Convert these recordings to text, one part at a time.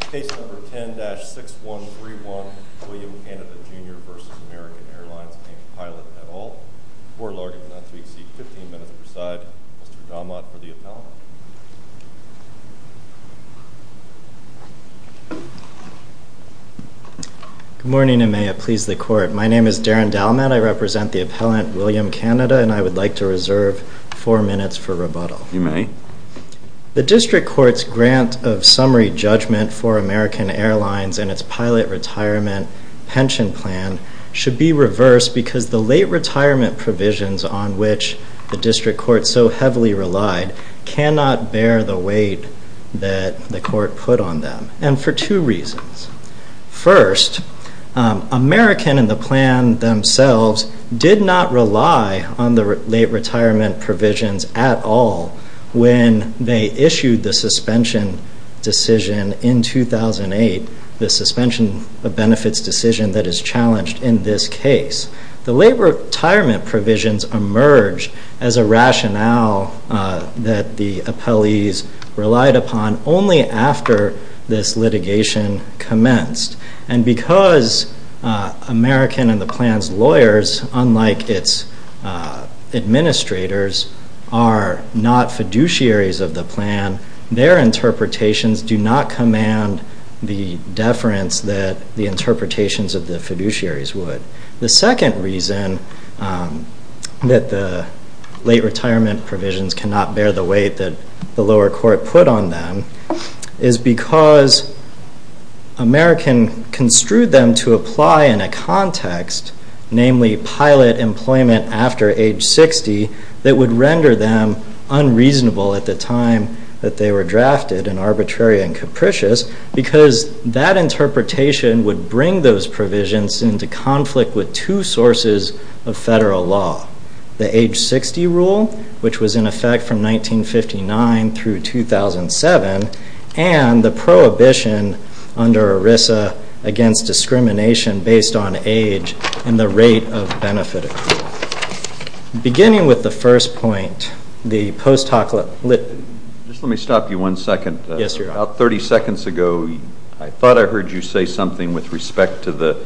Case number 10-6131 William Canada Jr. v. American Airlines. Name of pilot et al. Court ordered that to exceed 15 minutes to preside. Mr. Dalmat for the appellant. Good morning and may it please the court. My name is Darren Dalmat. I represent the appellant William Canada and I would like to reserve 4 minutes for rebuttal. You may. The district court's grant of summary judgment for American Airlines and its pilot retirement pension plan should be reversed because the late retirement provisions on which the district court so heavily relied cannot bear the weight that the court put on them and for two reasons. First, American and the plan themselves did not rely on the late retirement provisions at all when they issued the suspension decision in 2008, the suspension of benefits decision that is challenged in this case. The late retirement provisions emerged as a rationale that the appellees relied upon only after this litigation commenced. And because American and the plan's lawyers, unlike its administrators, are not fiduciaries of the plan, their interpretations do not command the deference that the interpretations of the fiduciaries would. The second reason that the late retirement provisions cannot bear the weight that the lower court put on them is because American construed them to apply in a context, namely pilot employment after age 60 that would render them unreasonable at the time that they were drafted and arbitrary and capricious because that interpretation would bring those provisions into conflict with two sources of federal law. The age 60 rule, which was in effect from 1959 through 2007, and the prohibition under ERISA against discrimination based on age and the rate of benefit accrual. Beginning with the first point, the post hoc lit... Just let me stop you one second. Yes, Your Honor. About 30 seconds ago, I thought I heard you say something with respect to the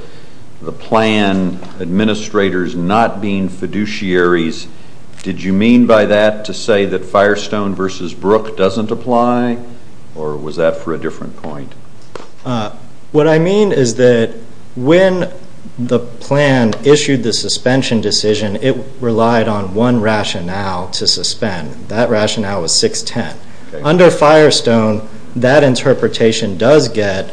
plan administrators not being fiduciaries. Did you mean by that to say that Firestone v. Brook doesn't apply or was that for a different point? What I mean is that when the plan issued the suspension decision, it relied on one rationale to suspend. That rationale was 6-10. Under Firestone, that interpretation does get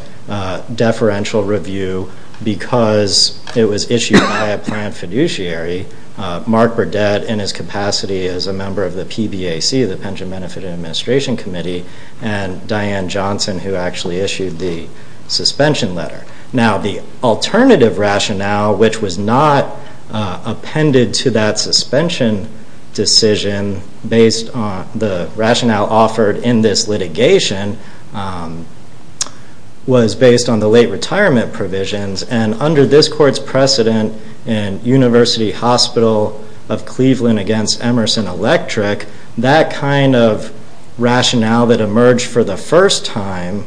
deferential review because it was issued by a planned fiduciary. Mark Burdett, in his capacity as a member of the PBAC, the Pension Benefit Administration Committee, and Diane Johnson, who actually issued the suspension letter. Now, the alternative rationale, which was not appended to that suspension decision based on the rationale offered in this litigation, was based on the late retirement provisions. And under this court's precedent in University Hospital of Cleveland v. Emerson Electric, that kind of rationale that emerged for the first time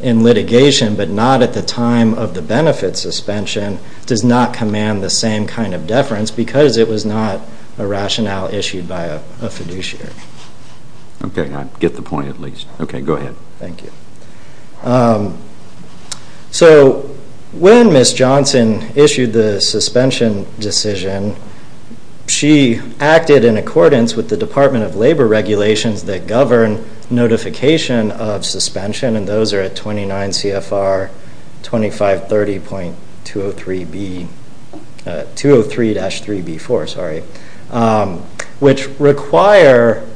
in litigation, but not at the time of the benefit suspension, does not command the same kind of deference because it was not a rationale issued by a fiduciary. Okay, I get the point at least. Okay, go ahead. Thank you. So, when Ms. Johnson issued the suspension decision, she acted in accordance with the Department of Labor regulations that govern notification of suspension, and those are at 29 CFR 2530.203-3B4, which require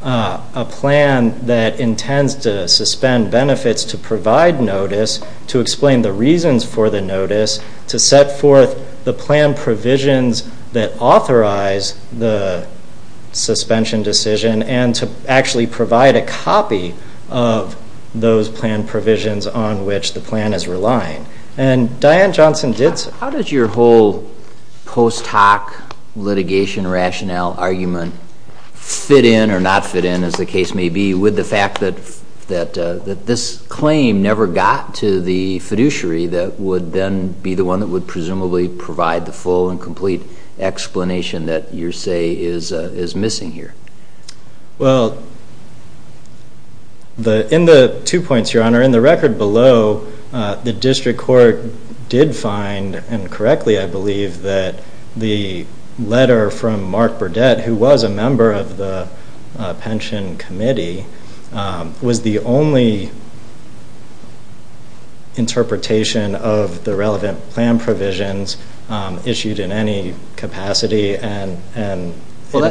a plan that intends to suspend benefits to provide notice, to explain the reasons for the notice, to set forth the plan provisions that authorize the suspension decision, and to actually provide a copy of those plan provisions on which the plan is relying. How did your whole post hoc litigation rationale argument fit in or not fit in, as the case may be, with the fact that this claim never got to the fiduciary that would then be the one that would presumably provide the full and complete explanation that you say is missing here? Well, in the two points, Your Honor, in the record below, the district court did find, and correctly I believe, that the letter from Mark Burdett, who was a member of the pension committee, was the only interpretation of the relevant plan provisions issued in any capacity, and it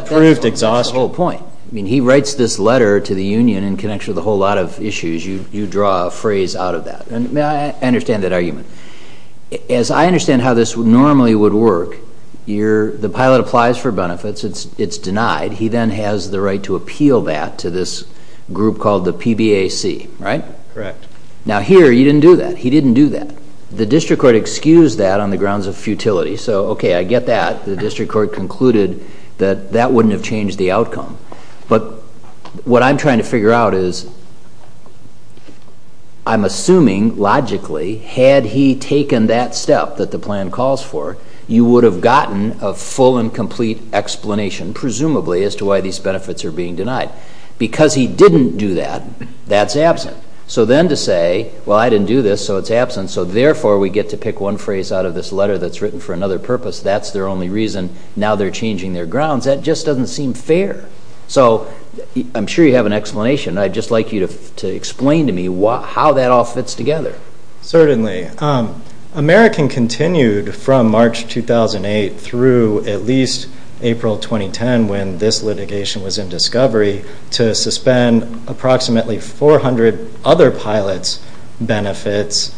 proved exhaustive. Well, that's the whole point. I mean, he writes this letter to the union in connection with a whole lot of issues. You draw a phrase out of that. And I understand that argument. As I understand how this normally would work, the pilot applies for benefits. It's denied. He then has the right to appeal that to this group called the PBAC, right? Correct. Now, here, he didn't do that. He didn't do that. The district court excused that on the grounds of futility. So, okay, I get that. The district court concluded that that wouldn't have changed the outcome. But what I'm trying to figure out is I'm assuming, logically, had he taken that step that the plan calls for, you would have gotten a full and complete explanation, presumably, as to why these benefits are being denied. Because he didn't do that, that's absent. So then to say, well, I didn't do this, so it's absent, so therefore we get to pick one phrase out of this letter that's written for another purpose, that's their only reason, now they're changing their grounds, that just doesn't seem fair. So I'm sure you have an explanation. I'd just like you to explain to me how that all fits together. Certainly. American continued from March 2008 through at least April 2010, when this litigation was in discovery, to suspend approximately 400 other pilots' benefits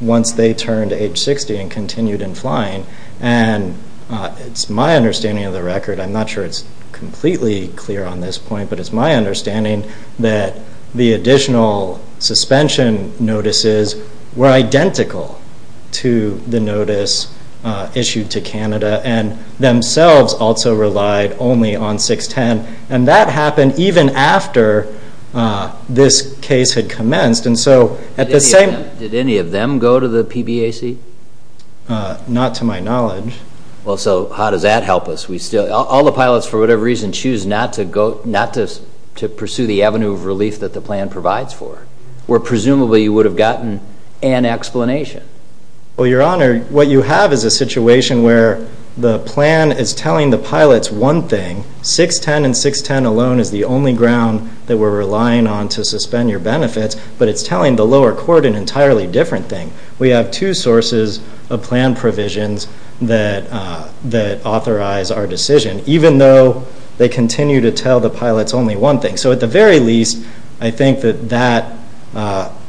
once they turned age 60 and continued in flying. And it's my understanding of the record, I'm not sure it's completely clear on this point, but it's my understanding that the additional suspension notices were identical to the notice issued to Canada and themselves also relied only on 610. And that happened even after this case had commenced. Did any of them go to the PBAC? Not to my knowledge. Well, so how does that help us? All the pilots, for whatever reason, choose not to pursue the avenue of relief that the plan provides for, where presumably you would have gotten an explanation. Well, Your Honor, what you have is a situation where the plan is telling the pilots one thing, 610 and 610 alone is the only ground that we're relying on to suspend your benefits, but it's telling the lower court an entirely different thing. We have two sources of plan provisions that authorize our decision, even though they continue to tell the pilots only one thing. So at the very least, I think that that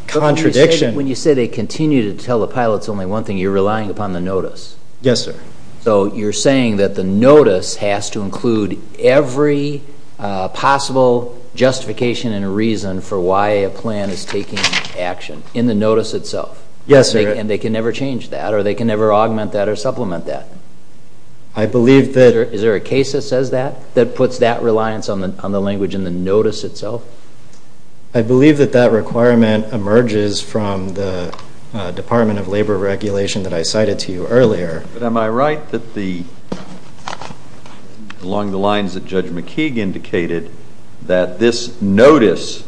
contradiction... But when you say they continue to tell the pilots only one thing, you're relying upon the notice. Yes, sir. So you're saying that the notice has to include every possible justification and reason for why a plan is taking action in the notice itself. Yes, sir. And they can never change that, or they can never augment that or supplement that. I believe that... Is there a case that says that, that puts that reliance on the language in the notice itself? I believe that that requirement emerges from the Department of Labor regulation that I cited to you earlier. But am I right that the...along the lines that Judge McKeague indicated, that this notice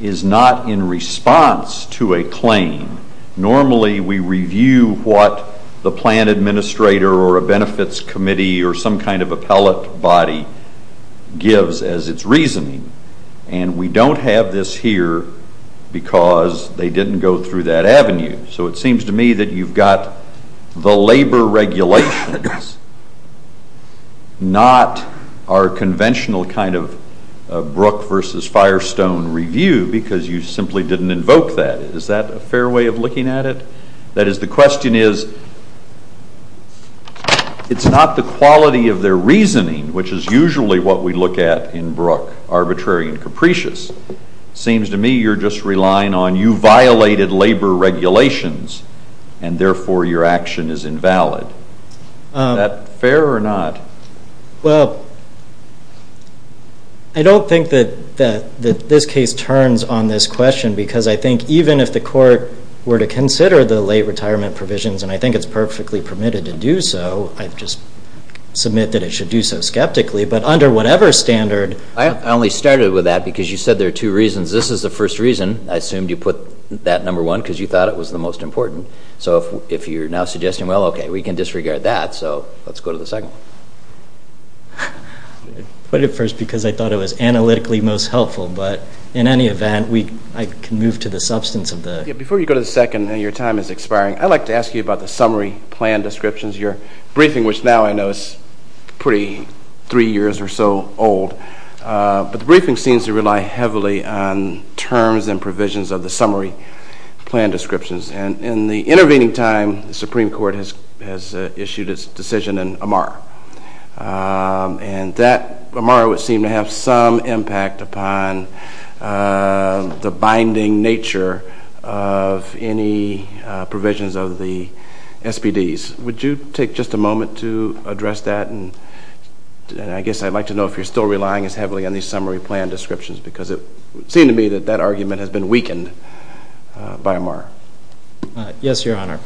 is not in response to a claim. Normally, we review what the plan administrator or a benefits committee or some kind of appellate body gives as its reasoning, and we don't have this here because they didn't go through that avenue. So it seems to me that you've got the labor regulations, not our conventional kind of Brook versus Firestone review because you simply didn't invoke that. Is that a fair way of looking at it? That is, the question is, it's not the quality of their reasoning, which is usually what we look at in Brook, arbitrary and capricious. It seems to me you're just relying on you violated labor regulations, and therefore your action is invalid. Is that fair or not? Well, I don't think that this case turns on this question because I think even if the court were to consider the late retirement provisions, and I think it's perfectly permitted to do so, I just submit that it should do so skeptically, but under whatever standard... I only started with that because you said there are two reasons. This is the first reason. I assumed you put that number one because you thought it was the most important. So if you're now suggesting, well, okay, we can disregard that, so let's go to the second one. I put it first because I thought it was analytically most helpful, but in any event, I can move to the substance of the... Yeah, before you go to the second and your time is expiring, I'd like to ask you about the summary plan descriptions. Your briefing, which now I know is pretty three years or so old, but the briefing seems to rely heavily on terms and provisions of the summary plan descriptions. And in the intervening time, the Supreme Court has issued its decision in Amar, and that Amar would seem to have some impact upon the binding nature of any provisions of the SPDs. Would you take just a moment to address that? And I guess I'd like to know if you're still relying as heavily on these summary plan descriptions because it seemed to me that that argument has been weakened by Amar. Yes, Your Honor.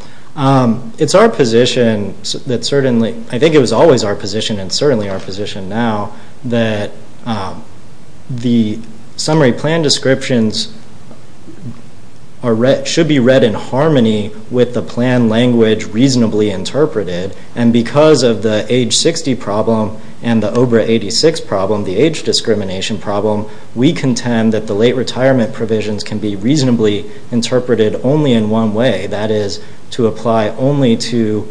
It's our position that certainly, I think it was always our position and certainly our position now, that the summary plan descriptions should be read in harmony with the plan language reasonably interpreted. And because of the age 60 problem and the OBRA 86 problem, the age discrimination problem, we contend that the late retirement provisions can be reasonably interpreted only in one way. That is to apply only to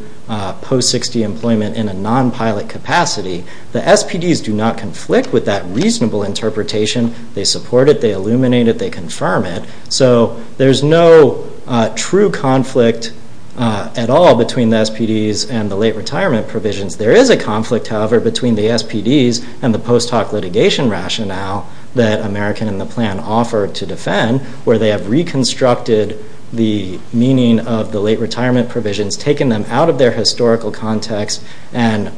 post-60 employment in a non-pilot capacity. The SPDs do not conflict with that reasonable interpretation. They support it. They illuminate it. They confirm it. So there's no true conflict at all between the SPDs and the late retirement provisions. There is a conflict, however, between the SPDs and the post hoc litigation rationale that American and the plan offer to defend where they have reconstructed the meaning of the late retirement provisions, taken them out of their historical context and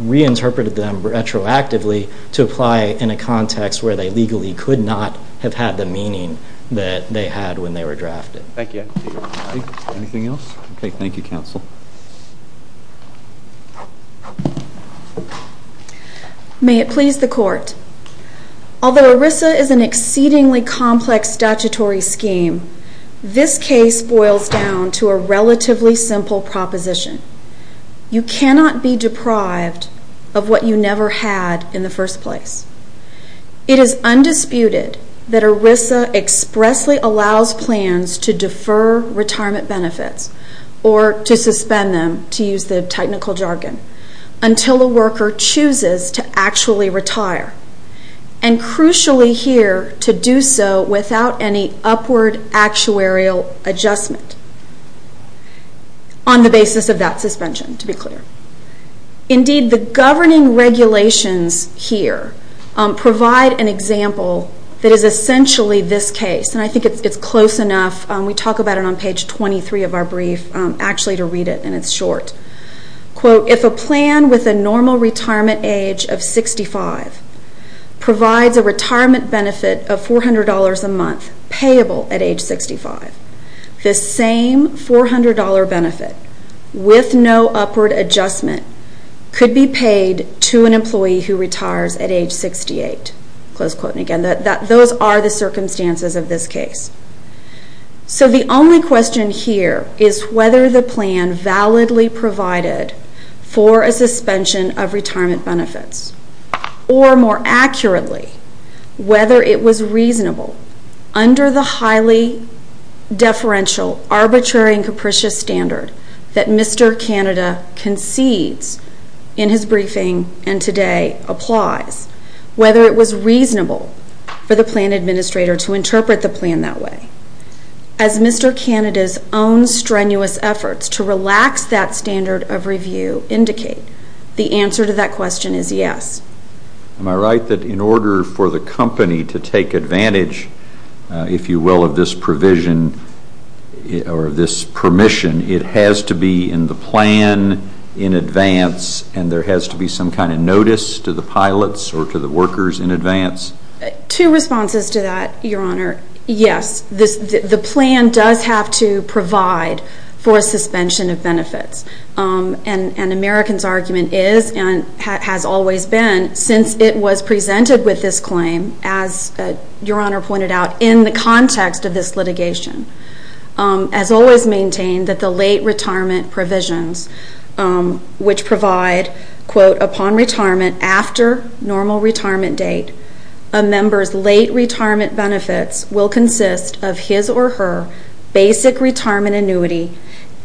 reinterpreted them retroactively to apply in a context where they legally could not have had the meaning that they had when they were drafted. Thank you. Anything else? Okay. Thank you, counsel. May it please the court. Although ERISA is an exceedingly complex statutory scheme, this case boils down to a relatively simple proposition. You cannot be deprived of what you never had in the first place. It is undisputed that ERISA expressly allows plans to defer retirement benefits or to suspend them, to use the technical jargon, until a worker chooses to actually retire and, crucially here, to do so without any upward actuarial adjustment on the basis of that suspension, to be clear. Indeed, the governing regulations here provide an example that is essentially this case, and I think it's close enough. We talk about it on page 23 of our brief. Actually, to read it, and it's short. Quote, if a plan with a normal retirement age of 65 provides a retirement benefit of $400 a month payable at age 65, the same $400 benefit with no upward adjustment could be paid to an employee who retires at age 68. Close quote. Again, those are the circumstances of this case. So the only question here is whether the plan validly provided for a suspension of retirement benefits or, more accurately, whether it was reasonable under the highly deferential, arbitrary, and capricious standard that Mr. Canada concedes in his briefing and today applies, whether it was reasonable for the plan administrator to interpret the plan that way. As Mr. Canada's own strenuous efforts to relax that standard of review indicate, the answer to that question is yes. Am I right that in order for the company to take advantage, if you will, of this provision or this permission, it has to be in the plan in advance and there has to be some kind of notice to the pilots or to the workers in advance? Two responses to that, Your Honor. Yes, the plan does have to provide for a suspension of benefits. And American's argument is and has always been since it was presented with this claim, as Your Honor pointed out, in the context of this litigation, has always maintained that the late retirement provisions, which provide, quote, upon retirement after normal retirement date, a member's late retirement benefits will consist of his or her basic retirement annuity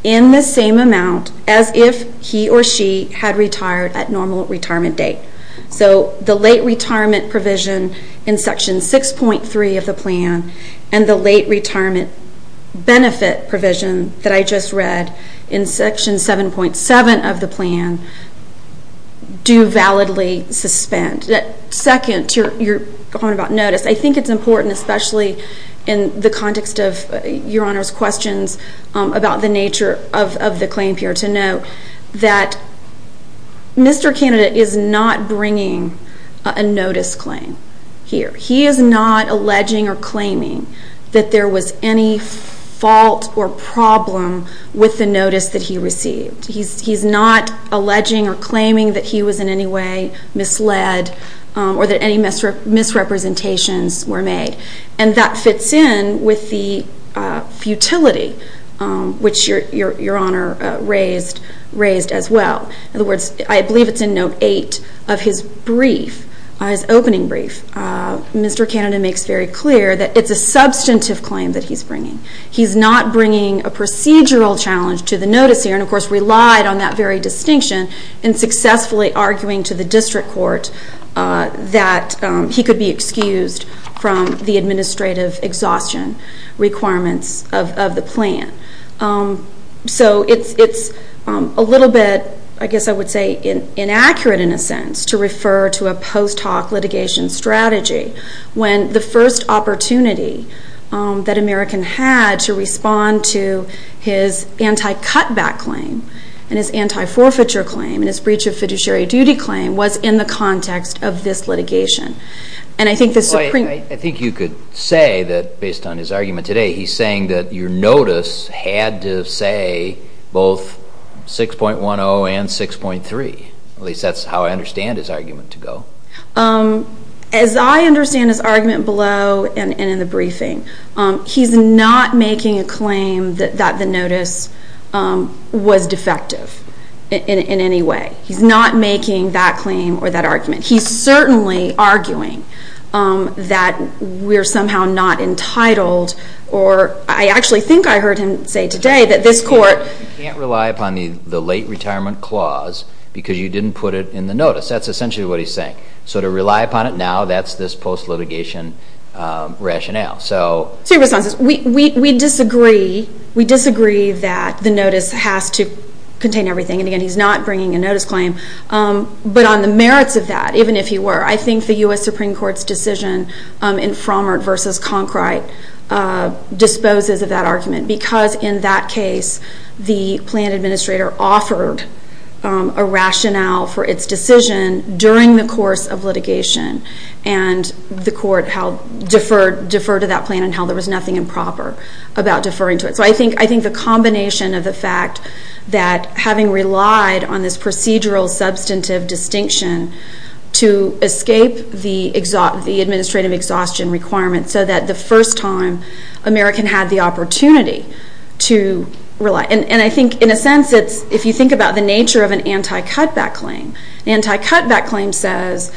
in the same amount as if he or she had retired at normal retirement date. So the late retirement provision in Section 6.3 of the plan and the late retirement benefit provision that I just read in Section 7.7 of the plan do validly suspend. Second, your point about notice. I think it's important, especially in the context of Your Honor's questions about the nature of the claim here, to note that Mr. Candidate is not bringing a notice claim here. He is not alleging or claiming that there was any fault or problem with the notice that he received. He's not alleging or claiming that he was in any way misled or that any misrepresentations were made. And that fits in with the futility, which Your Honor raised as well. In other words, I believe it's in Note 8 of his brief, his opening brief, Mr. Candidate makes very clear that it's a substantive claim that he's bringing. He's not bringing a procedural challenge to the notice here and, of course, relied on that very distinction in successfully arguing to the district court that he could be excused from the administrative exhaustion requirements of the plan. So it's a little bit, I guess I would say, inaccurate in a sense to refer to a post hoc litigation strategy when the first opportunity that American had to respond to his anti-cutback claim and his anti-forfeiture claim and his breach of fiduciary duty claim was in the context of this litigation. I think you could say that, based on his argument today, he's saying that your notice had to say both 6.10 and 6.3. At least that's how I understand his argument to go. As I understand his argument below and in the briefing, he's not making a claim that the notice was defective in any way. He's not making that claim or that argument. He's certainly arguing that we're somehow not entitled or I actually think I heard him say today that this court You can't rely upon the late retirement clause because you didn't put it in the notice. That's essentially what he's saying. So to rely upon it now, that's this post litigation rationale. We disagree that the notice has to contain everything. And again, he's not bringing a notice claim. But on the merits of that, even if he were, I think the U.S. Supreme Court's decision in Frommert v. Conkright disposes of that argument. Because in that case, the plan administrator offered a rationale for its decision during the course of litigation. And the court deferred to that plan and held there was nothing improper about deferring to it. So I think the combination of the fact that having relied on this procedural substantive distinction to escape the administrative exhaustion requirement so that the first time American had the opportunity to rely. And I think in a sense, if you think about the nature of an anti-cutback claim, an anti-cutback claim says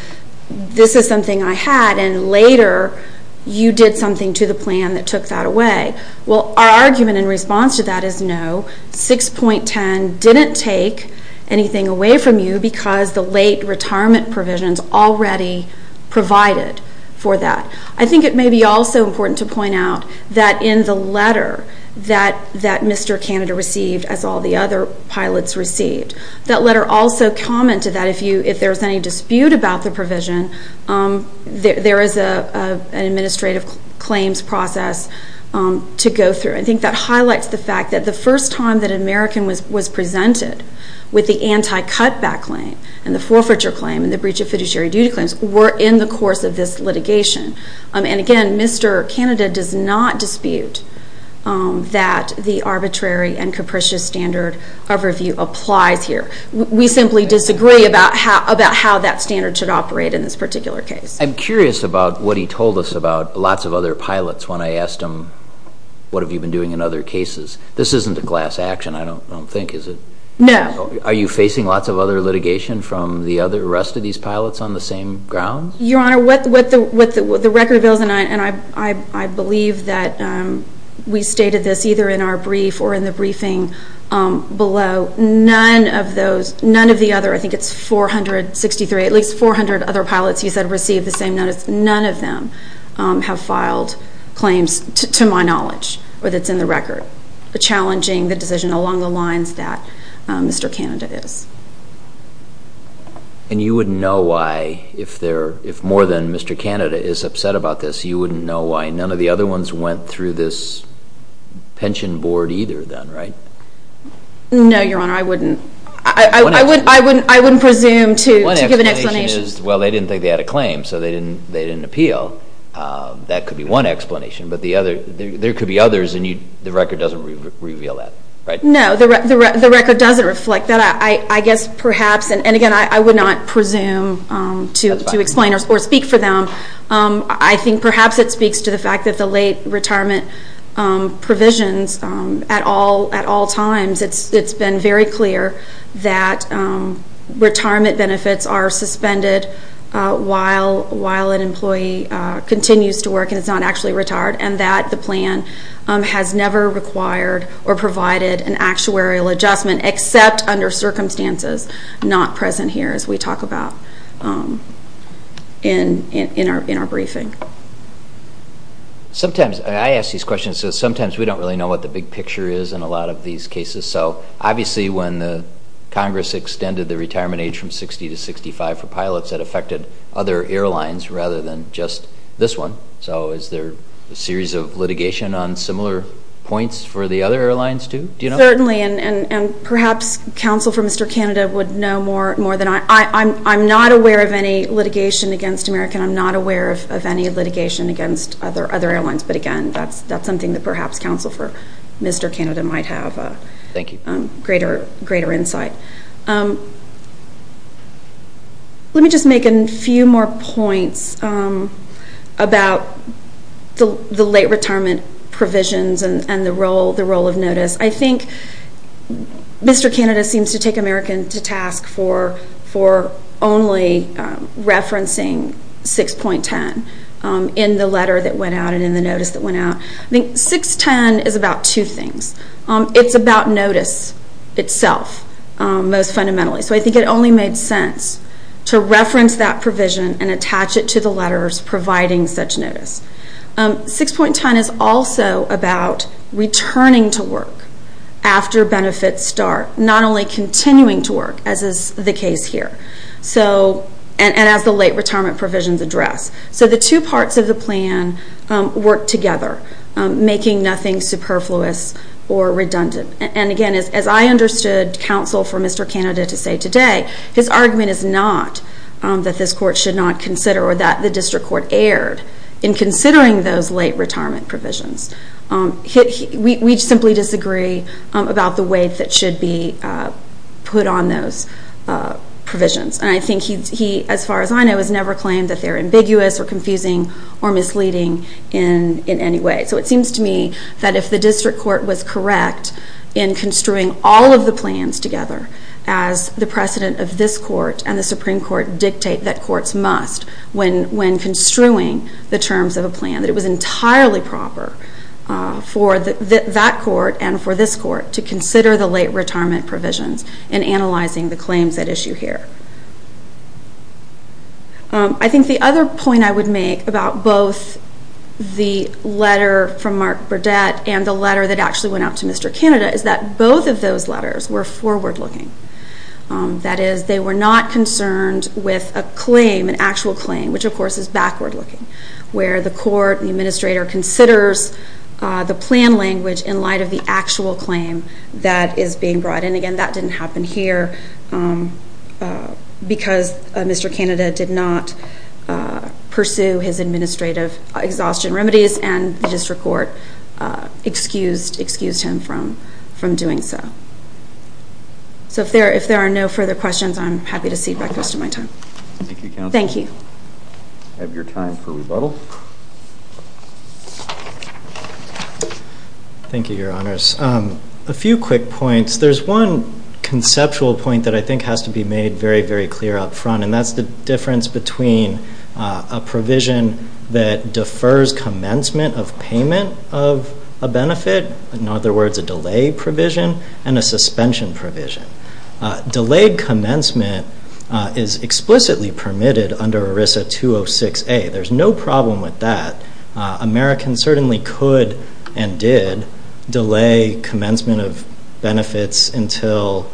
this is something I had and later you did something to the plan that took that away. Well, our argument in response to that is no. 6.10 didn't take anything away from you because the late retirement provisions already provided for that. I think it may be also important to point out that in the letter that Mr. Canada received, as all the other pilots received, that letter also commented that if there's any dispute about the provision, there is an administrative claims process to go through. I think that highlights the fact that the first time that American was presented with the anti-cutback claim and the forfeiture claim and the breach of fiduciary duty claims were in the course of this litigation. And again, Mr. Canada does not dispute that the arbitrary and capricious standard of review applies here. We simply disagree about how that standard should operate in this particular case. I'm curious about what he told us about lots of other pilots when I asked him, what have you been doing in other cases? This isn't a class action, I don't think, is it? No. Are you facing lots of other litigation from the other rest of these pilots on the same grounds? Your Honor, what the record reveals, and I believe that we stated this either in our brief or in the briefing below, none of the other, I think it's 463, at least 400 other pilots you said received the same notice, none of them have filed claims to my knowledge, or that's in the record, challenging the decision along the lines that Mr. Canada is. And you wouldn't know why, if more than Mr. Canada is upset about this, you wouldn't know why none of the other ones went through this pension board either then, right? No, Your Honor, I wouldn't. I wouldn't presume to give an explanation. Well, they didn't think they had a claim, so they didn't appeal. That could be one explanation, but there could be others, and the record doesn't reveal that, right? No, the record doesn't reflect that. I guess perhaps, and again, I would not presume to explain or speak for them. I think perhaps it speaks to the fact that the late retirement provisions at all times, it's been very clear that retirement benefits are suspended while an employee continues to work and is not actually retired, and that the plan has never required or provided an actuarial adjustment except under circumstances not present here as we talk about in our briefing. Sometimes, I ask these questions, so sometimes we don't really know what the big picture is in a lot of these cases. So obviously when Congress extended the retirement age from 60 to 65 for pilots, that affected other airlines rather than just this one. So is there a series of litigation on similar points for the other airlines too? Certainly, and perhaps counsel for Mr. Canada would know more than I. I'm not aware of any litigation against American. I'm not aware of any litigation against other airlines, but again, that's something that perhaps counsel for Mr. Canada might have greater insight. Let me just make a few more points about the late retirement provisions and the role of notice. I think Mr. Canada seems to take American to task for only referencing 6.10 in the letter that went out and in the notice that went out. I think 6.10 is about two things. It's about notice itself most fundamentally, so I think it only made sense to reference that provision and attach it to the letters providing such notice. 6.10 is also about returning to work after benefits start, not only continuing to work, as is the case here, and as the late retirement provisions address. So the two parts of the plan work together, making nothing superfluous or redundant. And again, as I understood counsel for Mr. Canada to say today, his argument is not that this court should not consider or that the district court erred in considering those late retirement provisions. We simply disagree about the way that should be put on those provisions, and I think he, as far as I know, has never claimed that they're ambiguous or confusing or misleading in any way. So it seems to me that if the district court was correct in construing all of the plans together as the precedent of this court and the Supreme Court dictate that courts must when construing the terms of a plan, that it was entirely proper for that court and for this court to consider the late retirement provisions in analyzing the claims at issue here. I think the other point I would make about both the letter from Mark Burdett and the letter that actually went out to Mr. Canada is that both of those letters were forward-looking. That is, they were not concerned with a claim, an actual claim, which of course is backward-looking, where the court, the administrator, considers the plan language in light of the actual claim that is being brought in. Again, that didn't happen here because Mr. Canada did not pursue his administrative exhaustion remedies and the district court excused him from doing so. So if there are no further questions, I'm happy to cede back the rest of my time. Thank you, Counsel. Thank you. I have your time for rebuttal. Thank you, Your Honors. A few quick points. There's one conceptual point that I think has to be made very, very clear up front, and that's the difference between a provision that defers commencement of payment of a benefit, in other words, a delay provision, and a suspension provision. Delayed commencement is explicitly permitted under ERISA 206A. There's no problem with that. Americans certainly could and did delay commencement of benefits until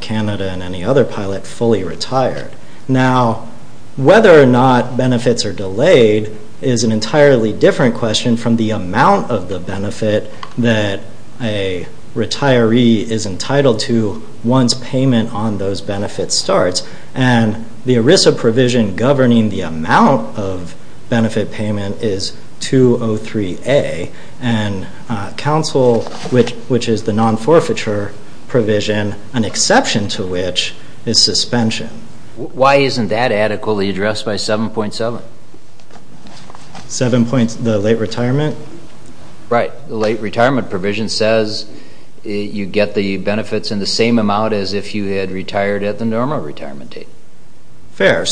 Canada and any other pilot fully retired. Now, whether or not benefits are delayed is an entirely different question from the amount of the benefit that a retiree is entitled to once payment on those benefits starts. The ERISA provision governing the amount of benefit payment is 203A, and counsel, which is the non-forfeiture provision, an exception to which is suspension. Why isn't that adequately addressed by 7.7? 7.7, the late retirement? Right. The late retirement provision says you get the benefits in the same amount as if you had retired at the normal retirement date. Fair. It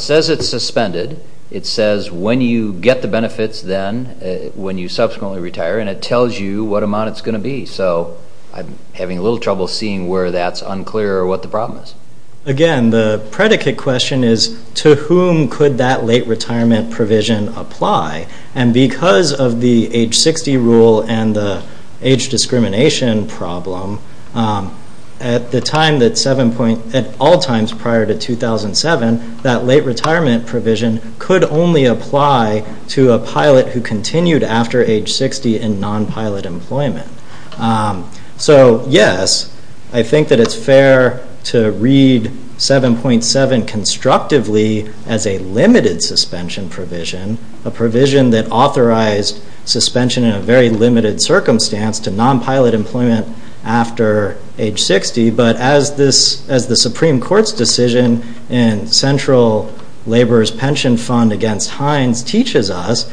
says it's suspended. It says when you get the benefits then, when you subsequently retire, and it tells you what amount it's going to be. So I'm having a little trouble seeing where that's unclear or what the problem is. Again, the predicate question is to whom could that late retirement provision apply? And because of the age 60 rule and the age discrimination problem, at all times prior to 2007, that late retirement provision could only apply to a pilot who continued after age 60 in non-pilot employment. So, yes, I think that it's fair to read 7.7 constructively as a limited suspension provision, a provision that authorized suspension in a very limited circumstance to non-pilot employment after age 60. But as the Supreme Court's decision in Central Labor's Pension Fund against Hines teaches us,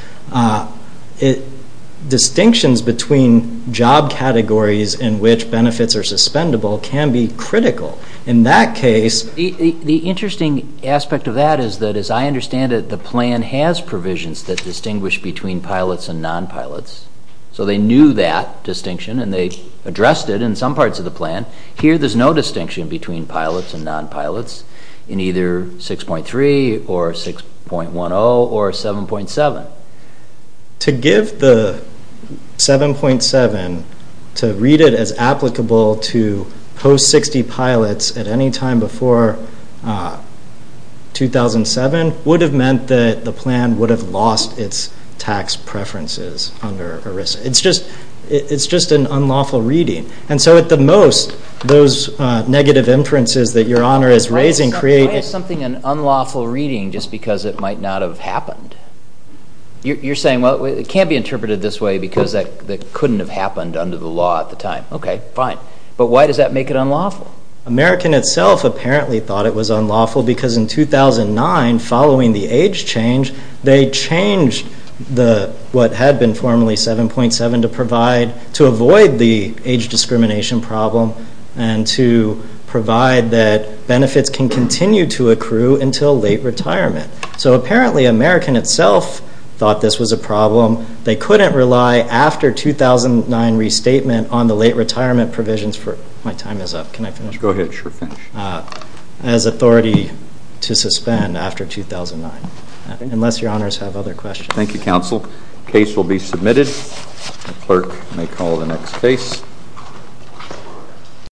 distinctions between job categories in which benefits are suspendable can be critical. In that case- The interesting aspect of that is that, as I understand it, the plan has provisions that distinguish between pilots and non-pilots. So they knew that distinction, and they addressed it in some parts of the plan. Here there's no distinction between pilots and non-pilots in either 6.3 or 6.10 or 7.7. To give the 7.7 to read it as applicable to post-60 pilots at any time before 2007 would have meant that the plan would have lost its tax preferences under ERISA. It's just an unlawful reading. And so at the most, those negative inferences that Your Honor is raising create- You're saying, well, it can't be interpreted this way because that couldn't have happened under the law at the time. Okay, fine. But why does that make it unlawful? American itself apparently thought it was unlawful because in 2009, following the age change, they changed what had been formerly 7.7 to avoid the age discrimination problem and to provide that benefits can continue to accrue until late retirement. So apparently American itself thought this was a problem. They couldn't rely after 2009 restatement on the late retirement provisions for- My time is up. Can I finish? Go ahead. Sure, finish. As authority to suspend after 2009. Unless Your Honors have other questions. Thank you, Counsel. Case will be submitted. Clerk may call the next case.